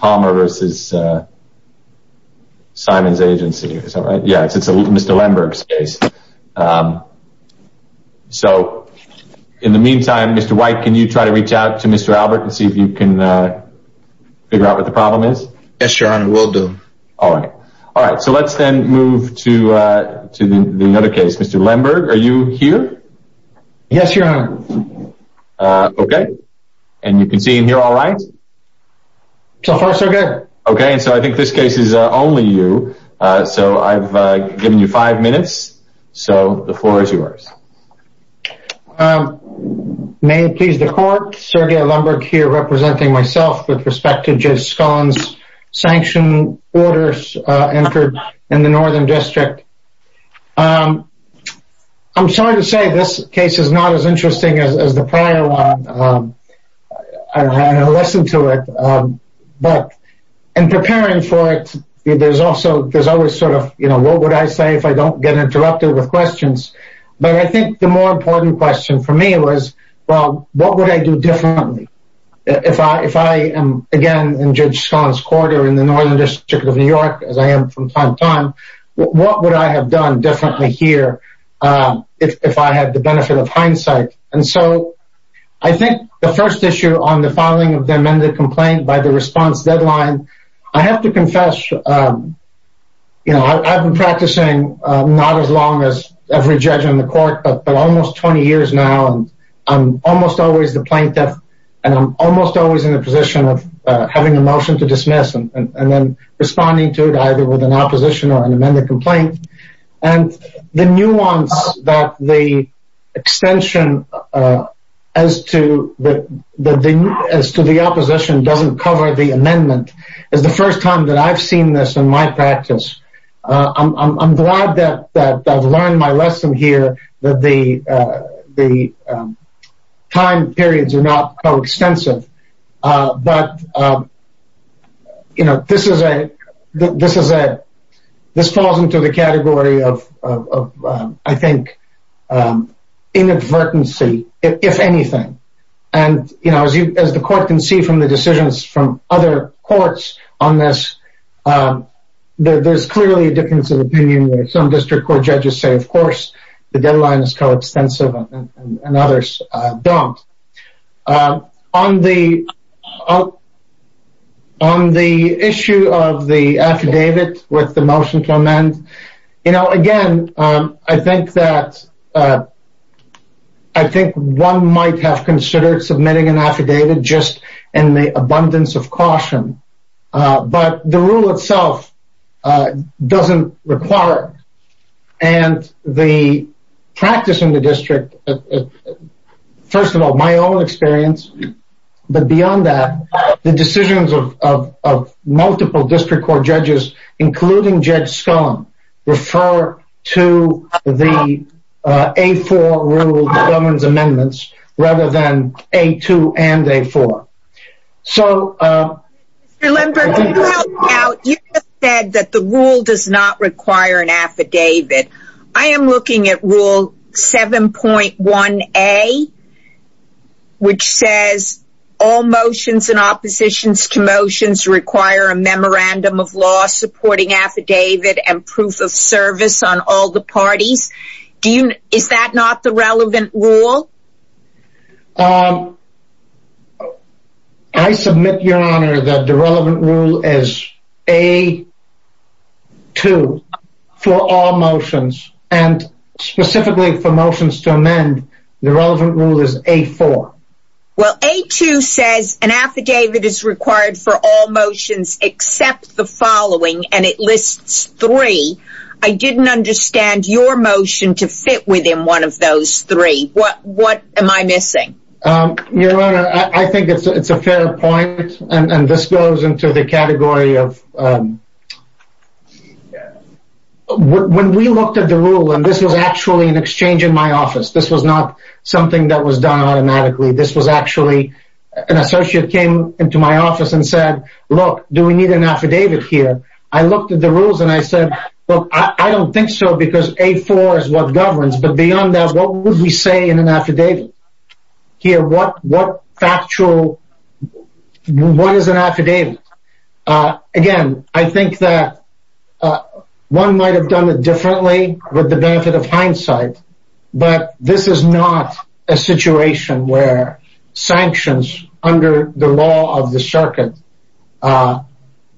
Palmer v. Simon's Agency So far, so good. Okay, so I think this case is only you. So, I've given you five minutes. So, the floor is yours. May it please the Court, Sergei Lemberg here representing myself with respect to Jeff Scon's sanctioned orders entered in the Northern District. I'm sorry to say this case is not as interesting as the prior one. I listened to it, but in preparing for it, there's always sort of, you know, what would I say if I don't get interrupted with questions? But I think the more important question for me was, well, what would I do differently? If I am, again, in Judge Scon's quarter in the Northern District of New York, as I am from time to time, what would I have done differently here if I had the benefit of hindsight? And so, I think the first issue on the filing of the amended complaint by the response deadline, I have to confess, you know, I've been practicing not as long as every judge on the court, but almost 20 years now. I'm almost always the plaintiff, and I'm almost always in the position of having a motion to dismiss and then responding to it either with an opposition or an amended complaint. And the nuance that the extension as to the opposition doesn't cover the amendment is the first time that I've seen this in my practice. I'm glad that I've learned my lesson here, that the time periods are not so extensive. But, you know, this falls into the category of, I think, inadvertency, if anything. And, you know, as the court can see from the decisions from other courts on this, there's clearly a difference of opinion. Some district court judges say, of course, the deadline is coextensive, and others don't. On the issue of the affidavit with the motion to amend, you know, again, I think that one might have considered submitting an affidavit just in the abundance of caution. But the rule itself doesn't require it. And the practice in the district, first of all, my own experience, but beyond that, the decisions of multiple district court judges, including Judge Scullin, refer to the A4 rule that governs amendments rather than A2 and A4. Mr. Lindberg, you just said that the rule does not require an affidavit. I am looking at Rule 7.1A, which says, all motions and oppositions to motions require a memorandum of law supporting affidavit and proof of service on all the parties. Is that not the relevant rule? I submit, Your Honor, that the relevant rule is A2 for all motions, and specifically for motions to amend, the relevant rule is A4. Well, A2 says an affidavit is required for all motions except the following, and it lists three. I didn't understand your motion to fit within one of those three. What am I missing? Your Honor, I think it's a fair point, and this goes into the category of when we looked at the rule, and this was actually an exchange in my office, this was not something that was done automatically, this was actually an associate came into my office and said, look, do we need an affidavit here? I looked at the rules and I said, look, I don't think so because A4 is what governs, but beyond that, what would we say in an affidavit? Here, what factual, what is an affidavit? Again, I think that one might have done it differently with the benefit of hindsight, but this is not a situation where sanctions under the law of the circuit are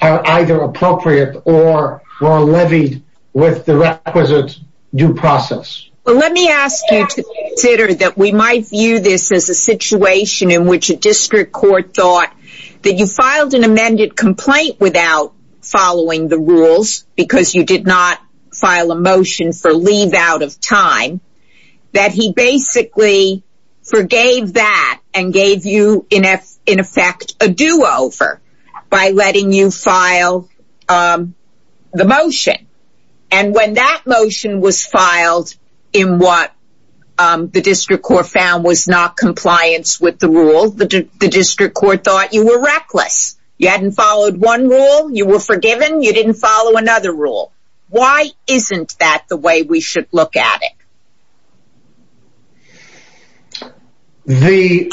either appropriate or are levied with the requisite due process. Well, let me ask you to consider that we might view this as a situation in which a district court thought that you filed an amended complaint without following the rules because you did not file a motion for leave out of time, that he basically forgave that and gave you, in effect, a do-over by letting you file the motion, and when that motion was filed in what the district court found was not compliance with the rule, the district court thought you were reckless. You hadn't followed one rule, you were forgiven, you didn't follow another rule. Why isn't that the way we should look at it? The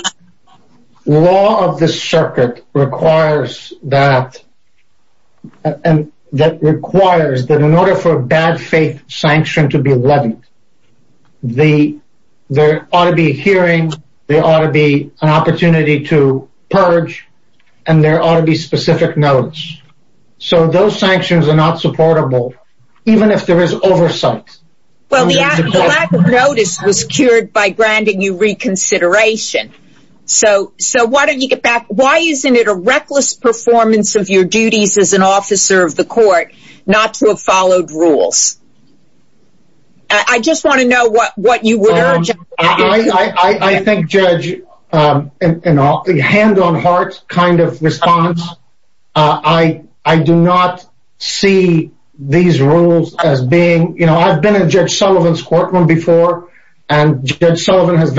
law of the circuit requires that in order for a bad faith sanction to be levied, there ought to be a hearing, there ought to be an opportunity to purge, and there ought to be specific notice. So those sanctions are not supportable, even if there is oversight. Well, the lack of notice was cured by granting you reconsideration. So why don't you get back, why isn't it a reckless performance of your duties as an officer of the court not to have followed rules? I just want to know what you would urge. I think, Judge, a hand on heart kind of response. I do not see these rules as being, you know, I've been in Judge Sullivan's courtroom before, and Judge Sullivan has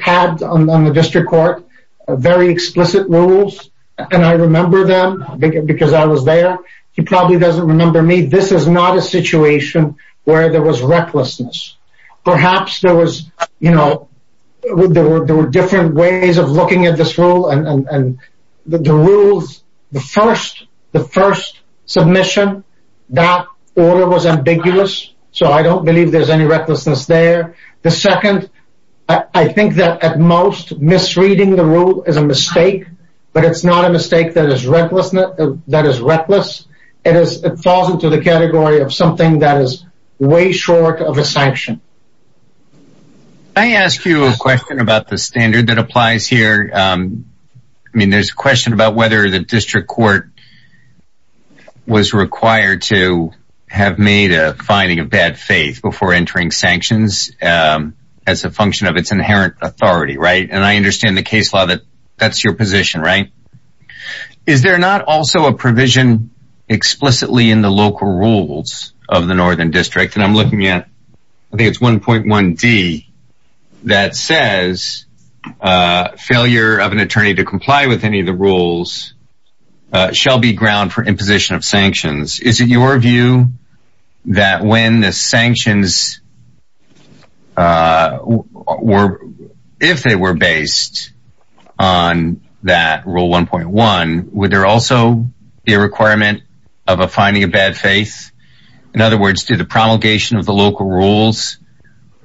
had on the district court very explicit rules, and I remember them because I was there. He probably doesn't remember me. This is not a situation where there was recklessness. Perhaps there was, you know, there were different ways of looking at this rule, and the rules, the first submission, that order was ambiguous, so I don't believe there's any recklessness there. The second, I think that at most misreading the rule is a mistake, but it's not a mistake that is reckless. It falls into the category of something that is way short of a sanction. Can I ask you a question about the standard that applies here? I mean, there's a question about whether the district court was required to have made a finding of bad faith before entering sanctions as a function of its inherent authority, right? And I understand the case law that that's your position, right? Is there not also a provision explicitly in the local rules of the Northern District, and I'm looking at, I think it's 1.1d, that says failure of an attorney to comply with any of the rules shall be ground for imposition of sanctions. Is it your view that when the sanctions were, if they were based on that rule 1.1, would there also be a requirement of a finding of bad faith? In other words, do the promulgation of the local rules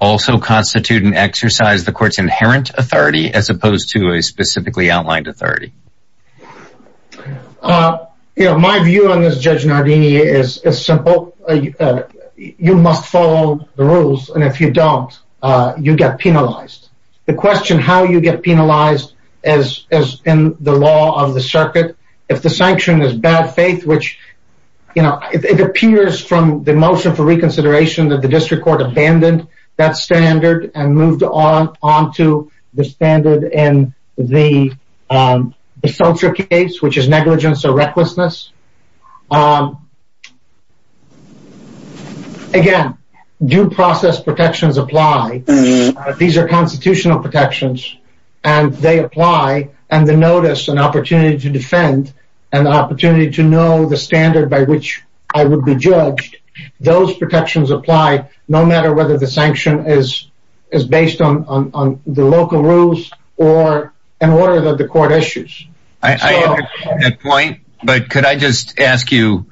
also constitute an exercise of the court's inherent authority as opposed to a specifically outlined authority? My view on this, Judge Nardini, is simple. You must follow the rules, and if you don't, you get penalized. The question how you get penalized is in the law of the circuit. If the sanction is bad faith, which, you know, it appears from the motion for reconsideration that the district court abandoned that standard and moved on to the standard in the Seltzer case, which is negligence or recklessness. Again, due process protections apply. These are constitutional protections, and they apply. And the notice, an opportunity to defend, an opportunity to know the standard by which I would be judged, those protections apply no matter whether the sanction is based on the local rules or in order that the court issues. I understand that point, but could I just ask you,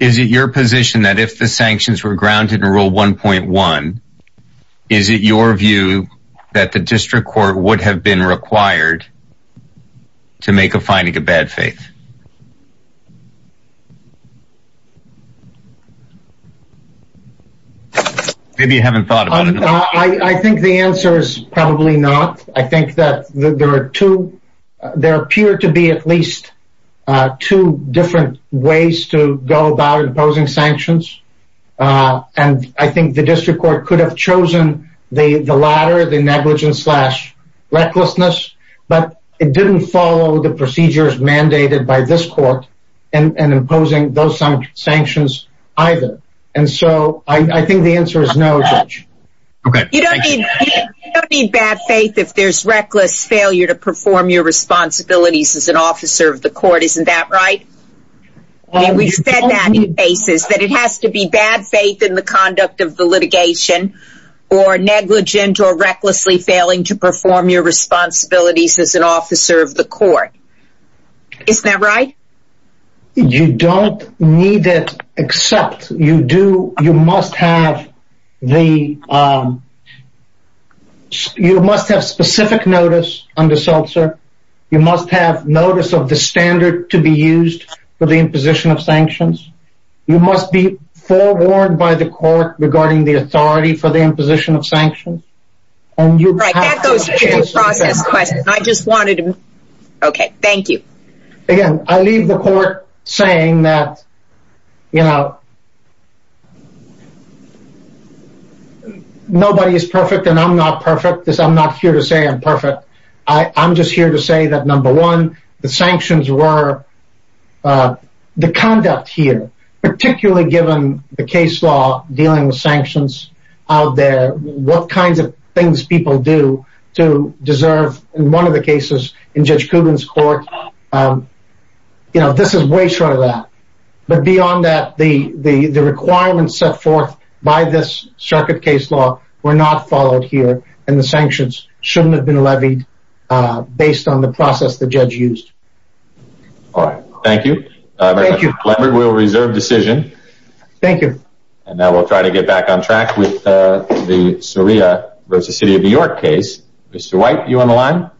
is it your position that if the sanctions were grounded in Rule 1.1, is it your view that the district court would have been required to make a finding of bad faith? Maybe you haven't thought about it. I think the answer is probably not. I think that there are two, there appear to be at least two different ways to go about imposing sanctions. And I think the district court could have chosen the latter, the negligence slash recklessness, but it didn't follow the procedures mandated by this court and imposing those sanctions either. And so I think the answer is no. You don't need bad faith if there's reckless failure to perform your responsibilities as an officer of the court, isn't that right? We've said that in cases, that it has to be bad faith in the conduct of the litigation, or negligent or recklessly failing to perform your responsibilities as an officer of the court. Isn't that right? You don't need it, except you must have specific notice under SELSER. You must have notice of the standard to be used for the imposition of sanctions. You must be forewarned by the court regarding the authority for the imposition of sanctions. Right, that goes to the process question. I just wanted to, okay, thank you. Again, I leave the court saying that, you know, nobody is perfect and I'm not perfect. I'm not here to say I'm perfect. I'm just here to say that number one, the sanctions were, the conduct here, particularly given the case law dealing with sanctions out there, what kinds of things people do to deserve, in one of the cases, in Judge Kubin's court, you know, this is way short of that. But beyond that, the requirements set forth by this circuit case law were not followed here and the sanctions shouldn't have been levied based on the process the judge used. All right, thank you. Thank you. Lambert, we'll reserve decision. Thank you. And now we'll try to get back on track with the Suria v. City of New York case. Mr. White, you on the line?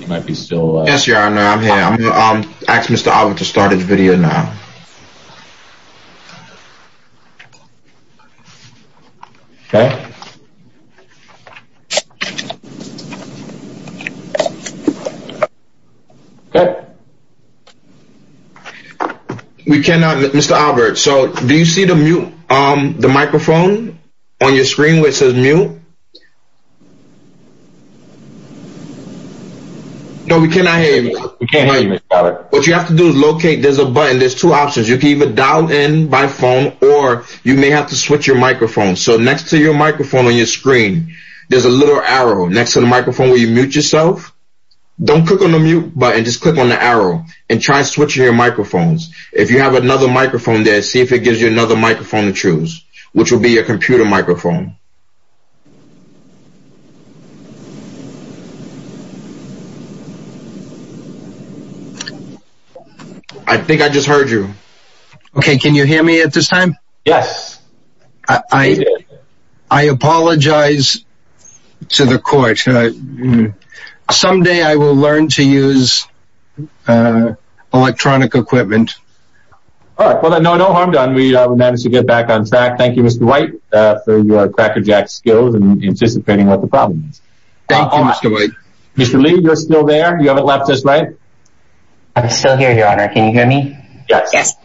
You might be still... Yes, Your Honor, I'm here. I'm going to ask Mr. Ogden to start his video now. Okay. Okay. We cannot, Mr. Albert, so do you see the mute, the microphone on your screen which says mute? No, we cannot hear you. We can't hear you, Mr. Albert. What you have to do is locate, there's a button, there's two options. You can either dial in by phone or you may have to switch your microphone. So next to your microphone on your screen, there's a little arrow. Next to the microphone where you mute yourself, don't click on the mute button, just click on the arrow and try switching your microphones. If you have another microphone there, see if it gives you another microphone to choose, which will be a computer microphone. I think I just heard you. Okay, can you hear me at this time? Yes. I apologize to the court. Someday I will learn to use electronic equipment. All right, no harm done. We managed to get back on track. Thank you, Mr. White, for your crackerjack skills and anticipating what the problem is. Thank you, Mr. White. Mr. Lee, you're still there? You haven't left just yet? I'm still here, Your Honor. Can you hear me? Yes.